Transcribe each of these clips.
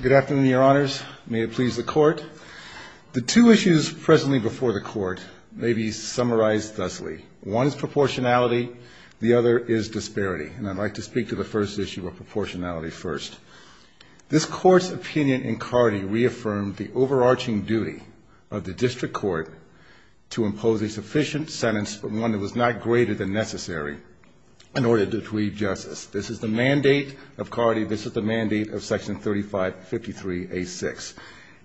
Good afternoon, Your Honors. May it please the Court. The two issues presently before the Court may be summarized thusly. One is proportionality, the other is disparity, and I'd like to speak to the first issue of proportionality first. This Court's opinion in Cardy reaffirmed the overarching duty of the district court to impose a sufficient sentence, but one that was not greater than necessary, in order to achieve justice. This is the mandate of Cardy, this is the mandate of Section 3553A6.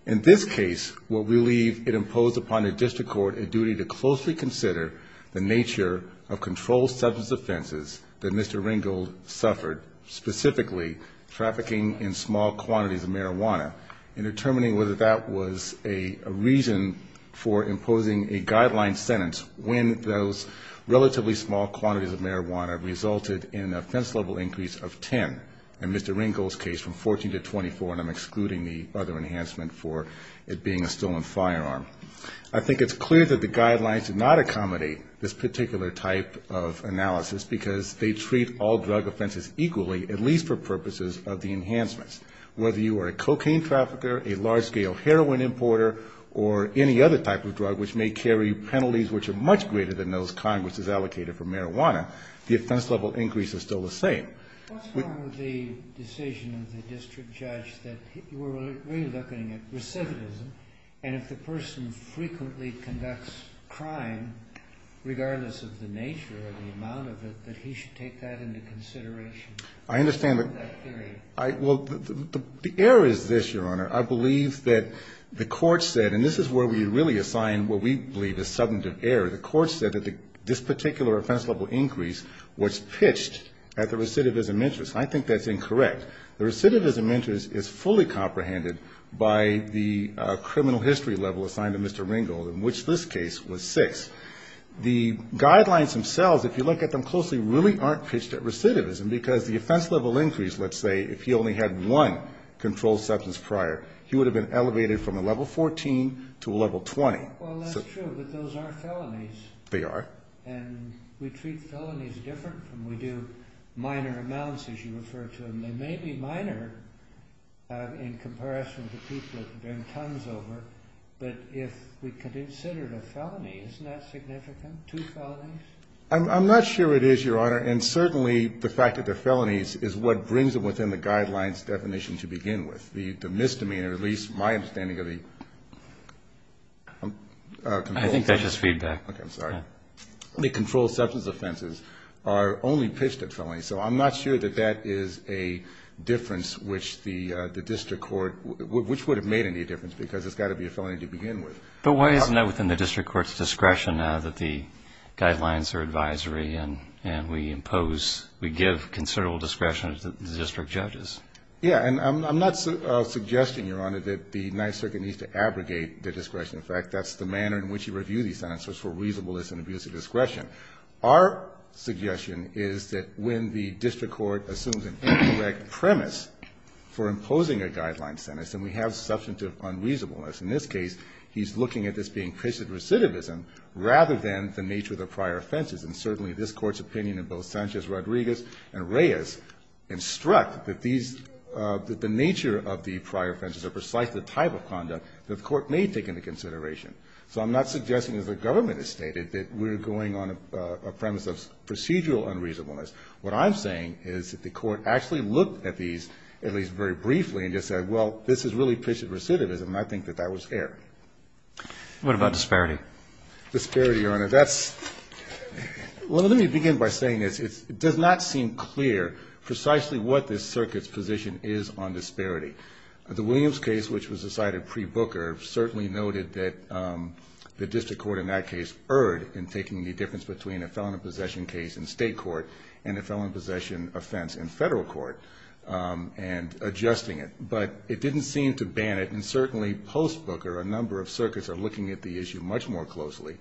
In this case, what we leave, it imposed upon the district court a duty to closely consider the nature of controlled substance offenses that Mr. Ringgold suffered, specifically trafficking in small quantities of marijuana, and determining whether that was a reason for imposing a guideline sentence when those relatively small quantities of marijuana resulted in an offense level increase of 10. In Mr. Ringgold's case, from 14 to 24, and I'm excluding the other enhancement for it being a stolen firearm. I think it's clear that the guidelines do not accommodate this particular type of analysis, because they treat all drug offenses equally, at least for purposes of the enhancements. Whether you are a cocaine trafficker, a large-scale heroin importer, or any other type of drug, which may carry penalties which are much greater than those Congress has allocated for marijuana, the offense level increase is still the same. What's wrong with the decision of the district judge that we're really looking at recidivism, and if the person frequently conducts crime, regardless of the nature or the amount of it, that he should take that into consideration for that period? I understand the – well, the error is this, Your Honor. I believe that the court said, and this is where we really assign what we believe is substantive error. The court said that this particular offense level increase was pitched at the recidivism interest. I think that's incorrect. The recidivism interest is fully comprehended by the criminal history level assigned to Mr. Ringgold, in which this case was 6. The guidelines themselves, if you look at them closely, really aren't pitched at recidivism, because the offense level increase, let's say, if he only had one controlled substance prior, he would have been elevated from a level 14 to a level 20. Well, that's true, but those are felonies. They are. And we treat felonies different from – we do minor amounts, as you refer to them. They may be minor in comparison to people that have been tons over, but if we consider it a felony, isn't that significant, two felonies? I'm not sure it is, Your Honor. And certainly the fact that they're felonies is what brings them within the guidelines definition to begin with. The misdemeanor, at least my understanding of the control – I think that's just feedback. Okay. I'm sorry. The controlled substance offenses are only pitched at felonies. So I'm not sure that that is a difference which the district court – which would have made any difference, because it's got to be a felony to begin with. But why isn't that within the district court's discretion now that the guidelines are advisory and we impose – we give considerable discretion to the district judges? Yeah. And I'm not suggesting, Your Honor, that the United States Circuit needs to abrogate the discretion. In fact, that's the manner in which you review these sentences for reasonableness and abuse of discretion. Our suggestion is that when the district court assumes an incorrect premise for imposing a guideline sentence, then we have substantive unreasonableness. In this case, he's looking at this being pitched at recidivism rather than the nature of the prior offenses. And certainly this Court's opinion in both Sanchez-Rodriguez and Reyes instruct that these – that the nature of the prior offenses are precisely the type of conduct that the Court may take into consideration. So I'm not suggesting, as the government has stated, that we're going on a premise of procedural unreasonableness. What I'm saying is that the Court actually looked at these, at least very briefly, and just said, well, this is really pitched at recidivism. And I think that that was fair. What about disparity? Disparity, Your Honor, that's – well, let me begin by saying this. It does not seem clear precisely what this Circuit's position is on disparity. The Williams case, which was decided pre-Booker, certainly noted that the district court in that case erred in taking the difference between a felon in possession case in State court and a felon in possession offense in Federal court and adjusting But it didn't seem to ban it, and certainly post-Booker, a number of circuits are looking at the issue much more closely.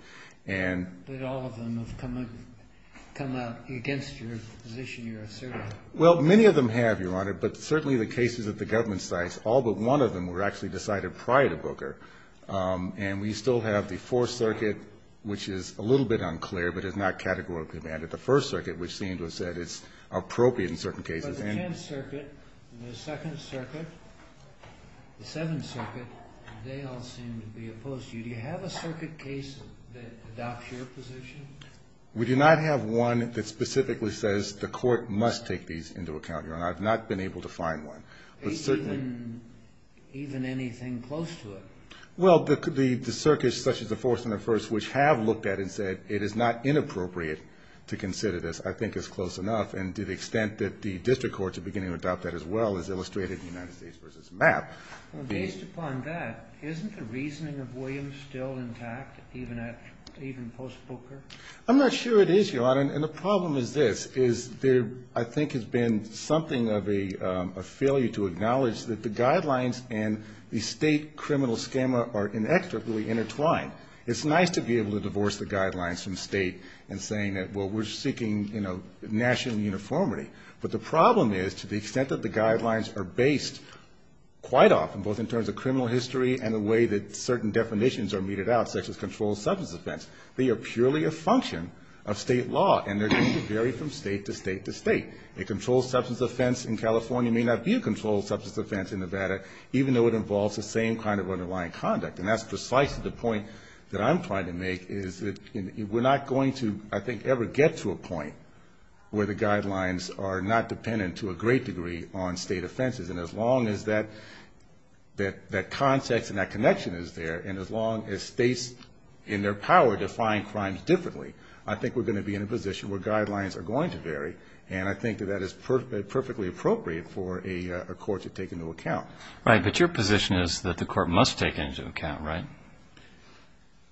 And – But all of them have come out against your position, your assertion. Well, many of them have, Your Honor, but certainly the cases at the government sites, all but one of them were actually decided prior to Booker. And we still have the Fourth Circuit, which is a little bit unclear, but it's not categorically banned. The First Circuit, which seemed to have said it's appropriate in certain cases. But the Tenth Circuit, the Second Circuit, the Seventh Circuit, they all seem to be opposed to you. Do you have a circuit case that adopts your position? We do not have one that specifically says the court must take these into account, Your Honor. I've not been able to find one. But certainly – Even anything close to it? Well, the circuits such as the Fourth and the First, which have looked at it and said it is not inappropriate to consider this, I think is close enough. And to the extent that the district courts are beginning to adopt that as well is illustrated in United States v. Mapp. Based upon that, isn't the reasoning of Williams still intact, even at – even post-Booker? I'm not sure it is, Your Honor. And the problem is this, is there, I think, has been something of a failure to acknowledge that the guidelines and the State criminal schema are inextricably intertwined. It's nice to be able to divorce the guidelines from State and saying that, well, we're seeking, you know, national uniformity. But the problem is, to the extent that the guidelines are based quite often, both in terms of criminal history and the way that certain definitions are meted out, such as controlled substance offense, they are purely a function of State law. And they're going to vary from State to State to State. A controlled substance offense in California may not be a controlled substance offense in Nevada, even though it involves the same kind of underlying conduct. And that's precisely the point that I'm trying to make, is that we're not going to, I think, ever get to a point where the guidelines are not dependent to a great degree on State offenses. And as long as that context and that connection is there, and as long as States, in their power, define crimes differently, I think we're going to be in a position where guidelines are going to vary. And I think that that is perfectly appropriate for a court to take into account. Right. But your position is that the court must take it into account, right?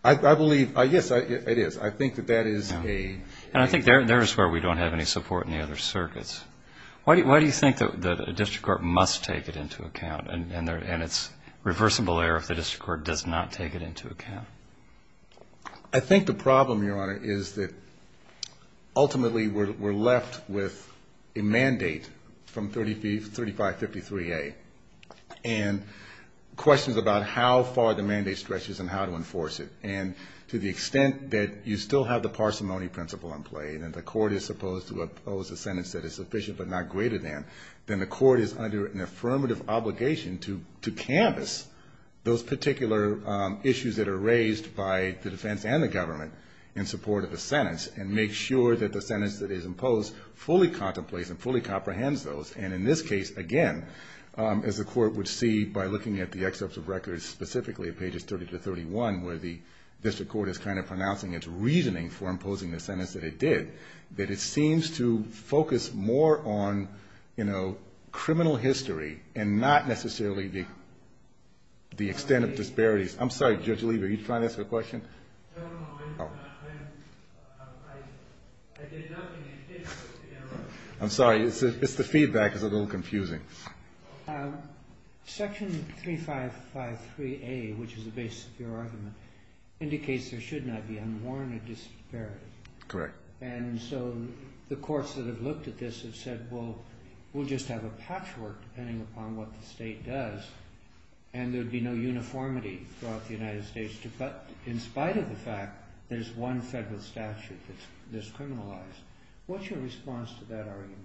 I believe – yes, it is. I think that that is a – And I think there is where we don't have any support in the other circuits. Why do you think that a district court must take it into account, and it's a reversible error if the district court does not take it into account? I think the problem, Your Honor, is that ultimately we're left with a mandate from 3553A and questions about how far the mandate stretches and how to enforce it. And to the extent that you still have the parsimony principle in play and that the court is supposed to oppose a sentence that is sufficient but not greater than, then the court is under an affirmative obligation to canvass those particular issues that are raised by the defense and the government in support of the sentence and make sure that the sentence that is imposed fully contemplates and fully comprehends those. And in this case, again, as the court would see by looking at the excerpts of district court as kind of pronouncing its reasoning for imposing the sentence that it did, that it seems to focus more on, you know, criminal history and not necessarily the extent of disparities. I'm sorry, Judge Lieber, are you trying to ask a question? No, no. I did nothing. I'm sorry. It's the feedback that's a little confusing. Section 3553A, which is the basis of your argument, indicates there should not be unworn or disparate. Correct. And so the courts that have looked at this have said, well, we'll just have a patchwork depending upon what the state does and there would be no uniformity throughout the United States. But in spite of the fact there's one federal statute that's criminalized, what's your response to that argument?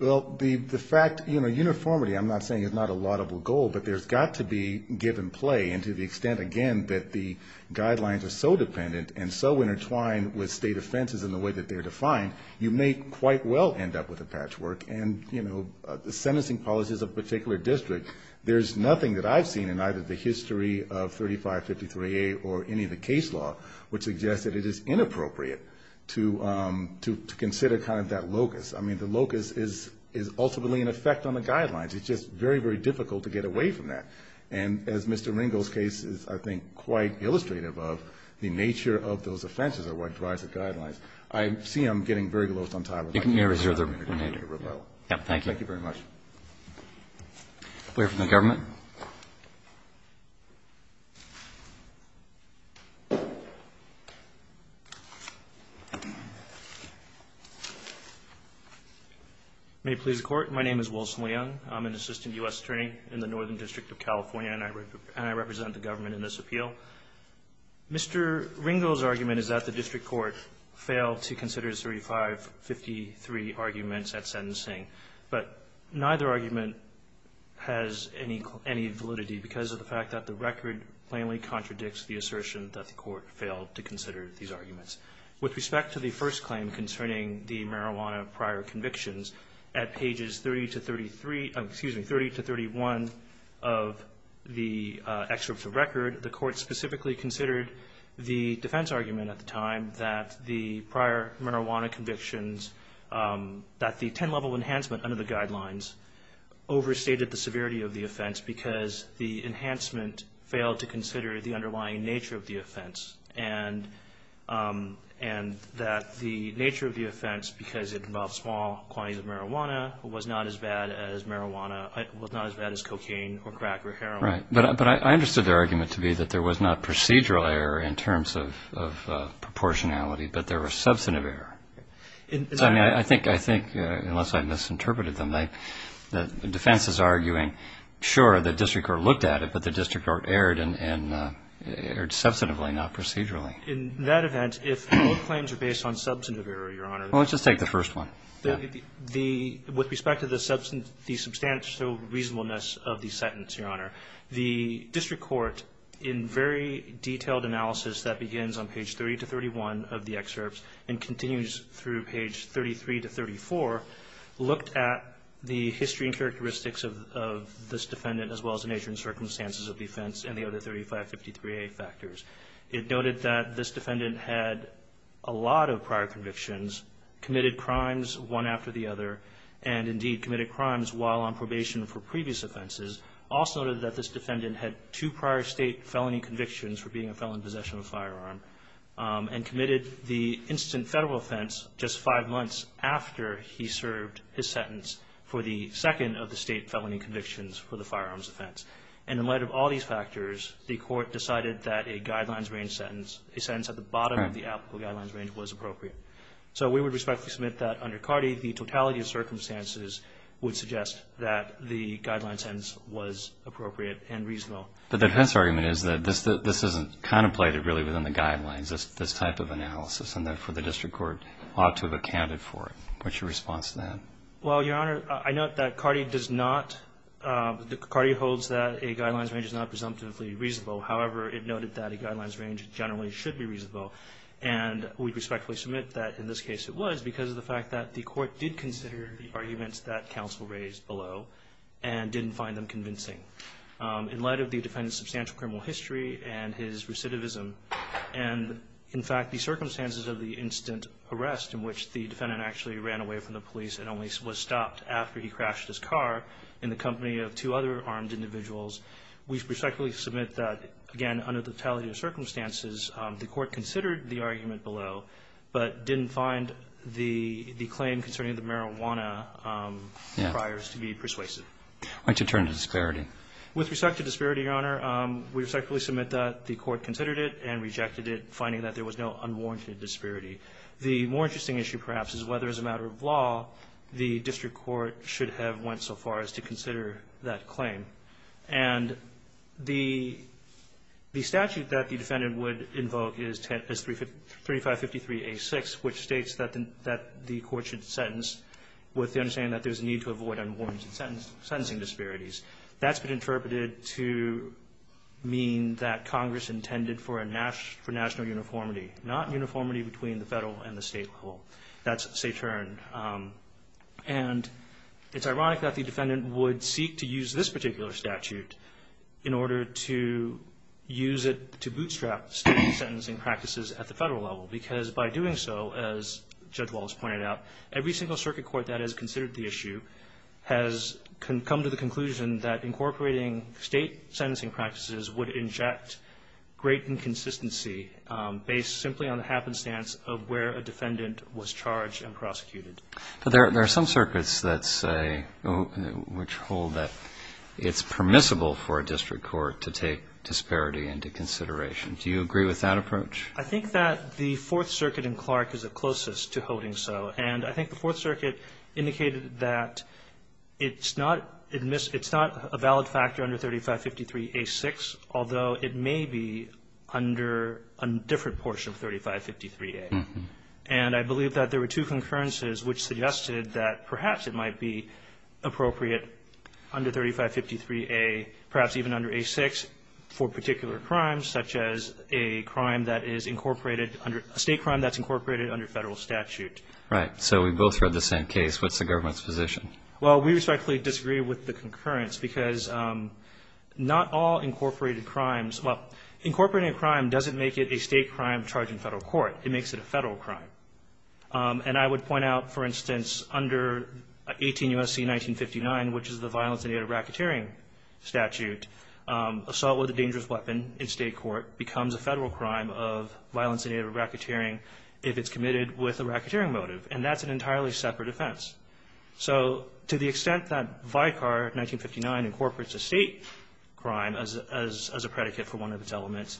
Well, the fact, you know, uniformity, I'm not saying it's not a laudable goal, but there's got to be give and play. And to the extent, again, that the guidelines are so dependent and so intertwined with state offenses in the way that they're defined, you may quite well end up with a patchwork. And, you know, the sentencing policies of a particular district, there's nothing that I've seen in either the history of 3553A or any of the case law which suggests that it is inappropriate to consider kind of that locus. I mean, the locus is ultimately an effect on the guidelines. It's just very, very difficult to get away from that. And as Mr. Ringel's case is, I think, quite illustrative of, the nature of those offenses are what drives the guidelines. I see I'm getting very close on time. You can reserve the remainder. Thank you. Thank you very much. We'll hear from the government. May it please the Court. My name is Wilson Leung. I'm an assistant U.S. attorney in the Northern District of California, and I represent the government in this appeal. Mr. Ringel's argument is that the district court failed to consider 3553 arguments at sentencing. But neither argument has any validity because of the fact that the record plainly contradicts the assertion that the court failed to consider these arguments. With respect to the first claim concerning the marijuana prior convictions, at pages 30 to 33, excuse me, 30 to 31 of the excerpt of record, the court specifically considered the defense argument at the time that the prior marijuana convictions that the 10-level enhancement under the guidelines overstated the severity of the offense because the enhancement failed to consider the underlying nature of the offense, and that the nature of the offense, because it involved small quantities of marijuana, was not as bad as cocaine or crack or heroin. Right. But I understood their argument to be that there was not procedural error in terms of proportionality, but there was substantive error. I think, unless I misinterpreted them, the defense is arguing, sure, the district court looked at it, but the district court erred substantively, not procedurally. In that event, if both claims are based on substantive error, Your Honor. Well, let's just take the first one. With respect to the substantial reasonableness of the sentence, Your Honor, the district court, in very detailed analysis that begins on page 30 to 31 of the case, through page 33 to 34, looked at the history and characteristics of this defendant, as well as the nature and circumstances of the offense, and the other 3553A factors. It noted that this defendant had a lot of prior convictions, committed crimes one after the other, and indeed committed crimes while on probation for previous offenses. Also noted that this defendant had two prior state felony convictions for being a defense just five months after he served his sentence for the second of the state felony convictions for the firearms offense. And in light of all these factors, the court decided that a guidelines range sentence, a sentence at the bottom of the applicable guidelines range, was appropriate. So we would respectfully submit that, under Carde, the totality of circumstances would suggest that the guidelines sentence was appropriate and reasonable. But the defense argument is that this isn't contemplated really within the guidelines, this type of analysis, and therefore the district court ought to have accounted for it. What's your response to that? Well, Your Honor, I note that Carde does not, Carde holds that a guidelines range is not presumptively reasonable. However, it noted that a guidelines range generally should be reasonable. And we respectfully submit that, in this case, it was because of the fact that the court did consider the arguments that counsel raised below and didn't find them convincing. In light of the defendant's substantial criminal history and his recidivism, and in fact, the circumstances of the instant arrest in which the defendant actually ran away from the police and only was stopped after he crashed his car in the company of two other armed individuals, we respectfully submit that, again, under the totality of circumstances, the court considered the argument below but didn't find the claim concerning the marijuana priors to be persuasive. Why did you turn to disparity? With respect to disparity, Your Honor, we respectfully submit that the court considered it and rejected it, finding that there was no unwarranted disparity. The more interesting issue, perhaps, is whether, as a matter of law, the district court should have went so far as to consider that claim. And the statute that the defendant would invoke is 3553a6, which states that the court should sentence with the understanding that there's a need to avoid unwarranted sentencing disparities. That's been interpreted to mean that Congress intended for national uniformity, not uniformity between the federal and the state level. That's saturn. And it's ironic that the defendant would seek to use this particular statute in order to use it to bootstrap state sentencing practices at the federal level, because by doing so, as Judge Wallace pointed out, every single circuit court that has considered the issue has come to the conclusion that incorporating state sentencing practices would inject great inconsistency based simply on the happenstance of where a defendant was charged and prosecuted. But there are some circuits that say, which hold that it's permissible for a district court to take disparity into consideration. Do you agree with that approach? I think that the Fourth Circuit in Clark is the closest to holding so. And I think the Fourth Circuit indicated that it's not a valid factor under 3553a6, although it may be under a different portion of 3553a. And I believe that there were two concurrences which suggested that perhaps it might be appropriate under 3553a, perhaps even under a6, for particular crimes, such as a crime that is incorporated under a state crime that's incorporated under federal statute. Right. So we both read the same case. What's the government's position? Well, we respectfully disagree with the concurrence, because not all incorporated crimes, well, incorporating a crime doesn't make it a state crime charged in federal court. It makes it a federal crime. And I would point out, for instance, under 18 U.S.C. 1959, which is the violence-invaded racketeering statute, assault with a dangerous weapon in state court becomes a federal crime of violence-invaded racketeering if it's a crime motive. And that's an entirely separate offense. So to the extent that Vicar 1959 incorporates a state crime as a predicate for one of its elements,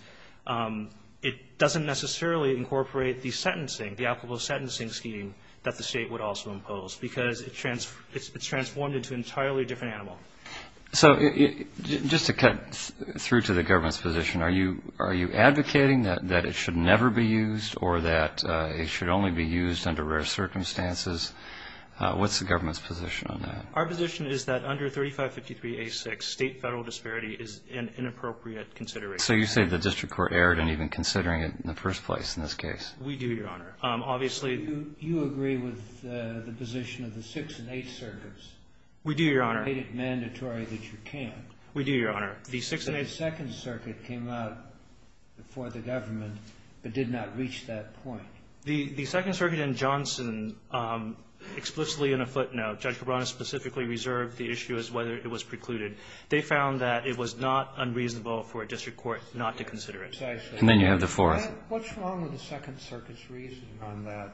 it doesn't necessarily incorporate the sentencing, the applicable sentencing scheme that the State would also impose, because it's transformed into an entirely different animal. So just to cut through to the government's position, are you advocating that it should never be used or that it should only be used under rare circumstances? What's the government's position on that? Our position is that under 3553A6, state-federal disparity is an inappropriate consideration. So you say the district court erred in even considering it in the first place in this We do, Your Honor. Obviously the ---- Do you agree with the position of the Sixth and Eighth Circuits? We do, Your Honor. Is it mandatory that you can't? We do, Your Honor. The Sixth and Eighth ---- The Second Circuit came out before the government but did not reach that point. The Second Circuit and Johnson explicitly in a footnote, Judge Cabrera specifically reserved the issue as whether it was precluded. They found that it was not unreasonable for a district court not to consider it. And then you have the Fourth. What's wrong with the Second Circuit's reason on that,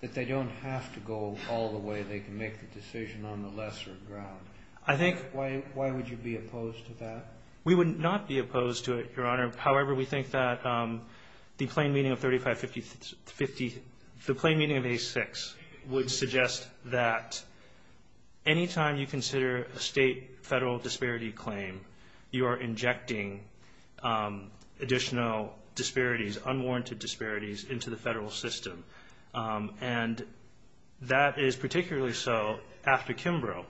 that they don't have to go all the way they can make the decision on the lesser ground? I think ---- We would not be opposed to it, Your Honor. However, we think that the plain meaning of 3550, the plain meaning of A6 would suggest that anytime you consider a state-federal disparity claim, you are injecting additional disparities, unwarranted disparities into the federal system. And that is particularly so after Kimbrough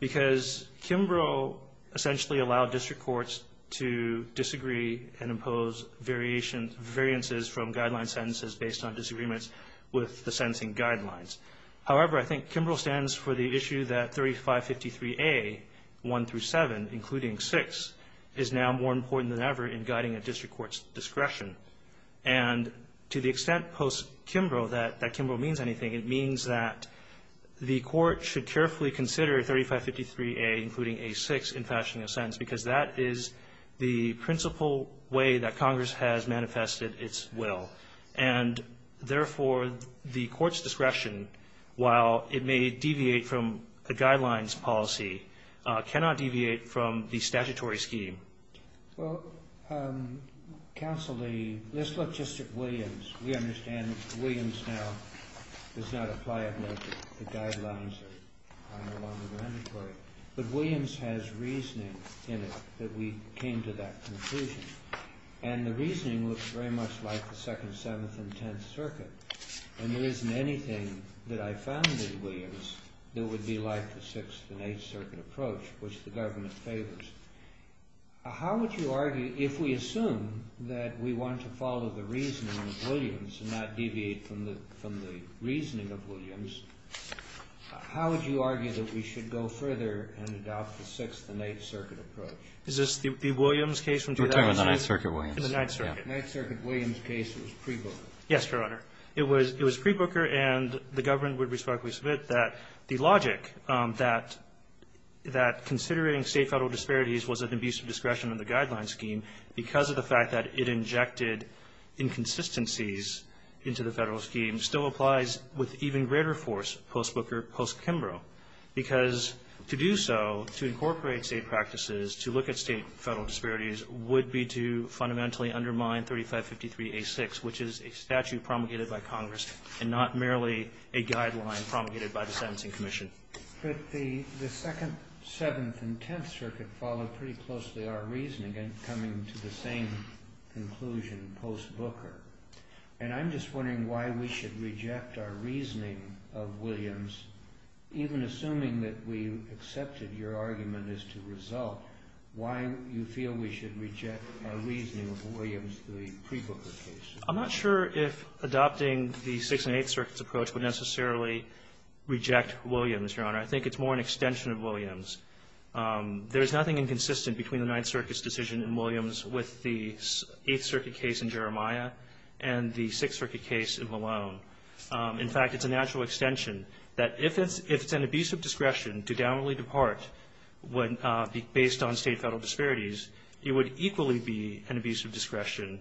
because Kimbrough essentially allowed district courts to disagree and impose variances from guideline sentences based on disagreements with the sentencing guidelines. However, I think Kimbrough stands for the issue that 3553A, 1 through 7, including 6, is now more important than ever in guiding a district court's discretion. And to the extent post-Kimbrough that that Kimbrough means anything, it means that the Court should carefully consider 3553A, including A6, in fashioning a sentence because that is the principal way that Congress has manifested its will. And therefore, the Court's discretion, while it may deviate from a guidelines policy, cannot deviate from the statutory scheme. Well, Counsel Lee, let's look just at Williams. We understand that Williams now does not apply a measure. The guidelines are no longer mandatory. But Williams has reasoning in it that we came to that conclusion. And the reasoning looks very much like the Second, Seventh, and Tenth Circuit. And there isn't anything that I found in Williams that would be like the Sixth and Eighth Circuit approach. Is this the Williams case from 2006? We're talking about the Ninth Circuit Williams. The Ninth Circuit. The Ninth Circuit Williams case was pre-Booker. Yes, Your Honor. It was pre-Booker. Incorporating state-federal disparities was an abuse of discretion in the guidelines scheme because of the fact that it injected inconsistencies into the federal scheme still applies with even greater force post-Booker, post-Kimbrough. Because to do so, to incorporate state practices, to look at state-federal disparities, would be to fundamentally undermine 3553A6, which is a statute promulgated by Congress and not merely a guideline promulgated by the Sentencing Commission. But the Second, Seventh, and Tenth Circuit followed pretty closely our reasoning and coming to the same conclusion post-Booker. And I'm just wondering why we should reject our reasoning of Williams, even assuming that we accepted your argument as to result, why you feel we should reject our reasoning of Williams, the pre-Booker case. I'm not sure if adopting the Sixth and Eighth Circuit's approach would necessarily reject Williams, Your Honor. I think it's more an extension of Williams. There is nothing inconsistent between the Ninth Circuit's decision in Williams with the Eighth Circuit case in Jeremiah and the Sixth Circuit case in Malone. In fact, it's a natural extension that if it's an abuse of discretion to downwardly depart based on state-federal disparities, it would equally be an abuse of discretion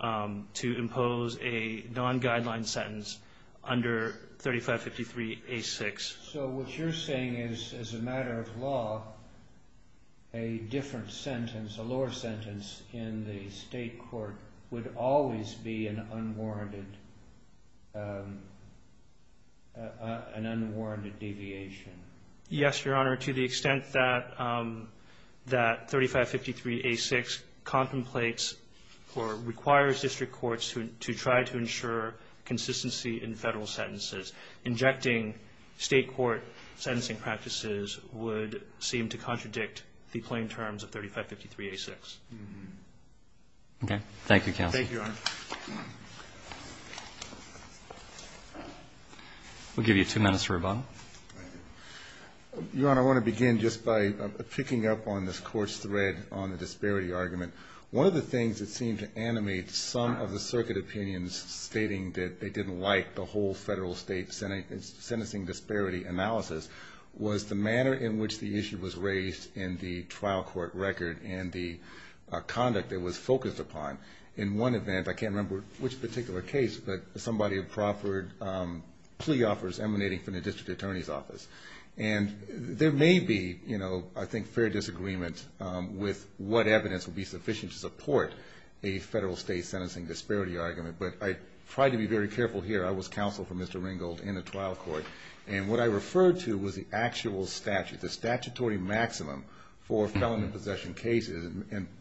to impose a non-guideline sentence under 3553A6. So what you're saying is, as a matter of law, a different sentence, a lower sentence in the state court would always be an unwarranted deviation. Yes, Your Honor. To the extent that 3553A6 contemplates or requires district courts to try to ensure consistency in federal sentences, injecting state court sentencing practices would seem to contradict the plain terms of 3553A6. Okay. Thank you, counsel. Thank you, Your Honor. We'll give you two minutes for rebuttal. Your Honor, I want to begin just by picking up on this court's thread on the disparity argument. One of the things that seemed to animate some of the circuit opinions stating that they didn't like the whole federal-state sentencing disparity analysis was the manner in which the issue was raised in the trial court record and the conduct it was focused upon. In one event, I can't remember which particular case, but somebody proffered plea offers emanating from the district attorney's office. And there may be, I think, fair disagreement with what evidence would be sufficient to support a federal-state sentencing disparity argument, but I tried to be very careful here. I was counsel for Mr. Ringgold in the trial court, and what I referred to was the actual statute, the statutory maximum for felon and possession cases.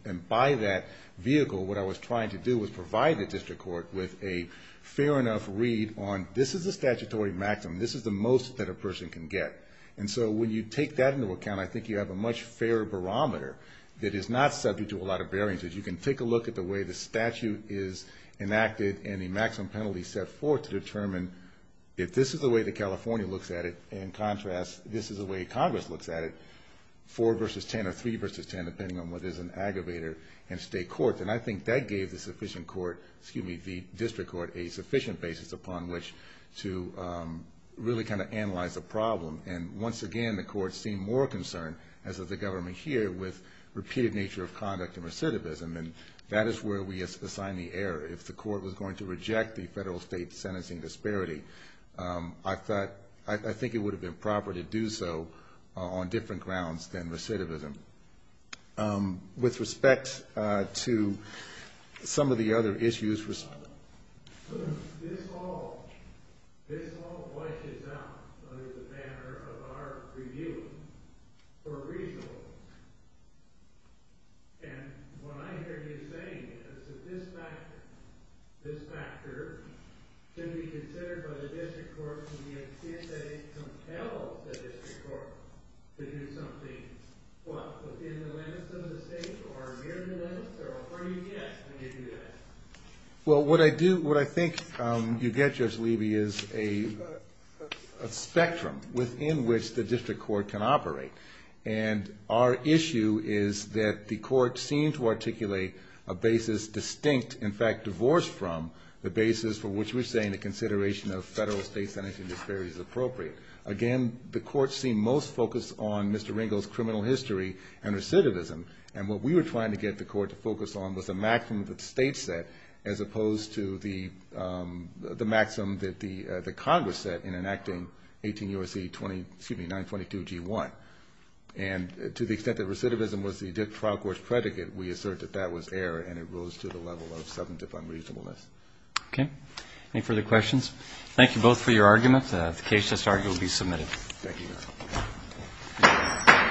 And by that vehicle, what I was trying to do was provide the district court with a fair enough read on this is the statutory maximum, this is the most that a person can get. And so when you take that into account, I think you have a much fairer barometer that is not subject to a lot of variances. You can take a look at the way the statute is enacted and the maximum penalty set forth to determine if this is the way that California looks at it and, in contrast, this is the way Congress looks at it, depending on whether it's an aggravator in state courts. And I think that gave the district court a sufficient basis upon which to really kind of analyze the problem. And once again, the courts seem more concerned, as does the government here, with repeated nature of conduct and recidivism, and that is where we assign the error. If the court was going to reject the federal-state sentencing disparity, I think it would have been proper to do so on different grounds than recidivism. With respect to some of the other issues, this all washes out the manner of our review for reasonable reasons. And what I hear you saying is that this factor can be considered by the district court to be a case that compels the district court to do something, what, within the limits of the state or near the limits, or where do you get when you do that? Well, what I think you get, Judge Levy, is a spectrum within which the district court can operate. And our issue is that the court seemed to articulate a basis distinct, in fact divorced from, the basis for which we're saying that consideration of federal-state sentencing disparity is appropriate. Again, the court seemed most focused on Mr. Ringo's criminal history and recidivism, and what we were trying to get the court to focus on was the maximum that the state set as opposed to the maximum that the Congress set in enacting 18 U.S.C. 922-G1. And to the extent that recidivism was the district trial court's predicate, we assert that that was error, and it rose to the level of substantive unreasonableness. Okay. Any further questions? Thank you both for your arguments. The case just argued will be submitted. Thank you, Your Honor.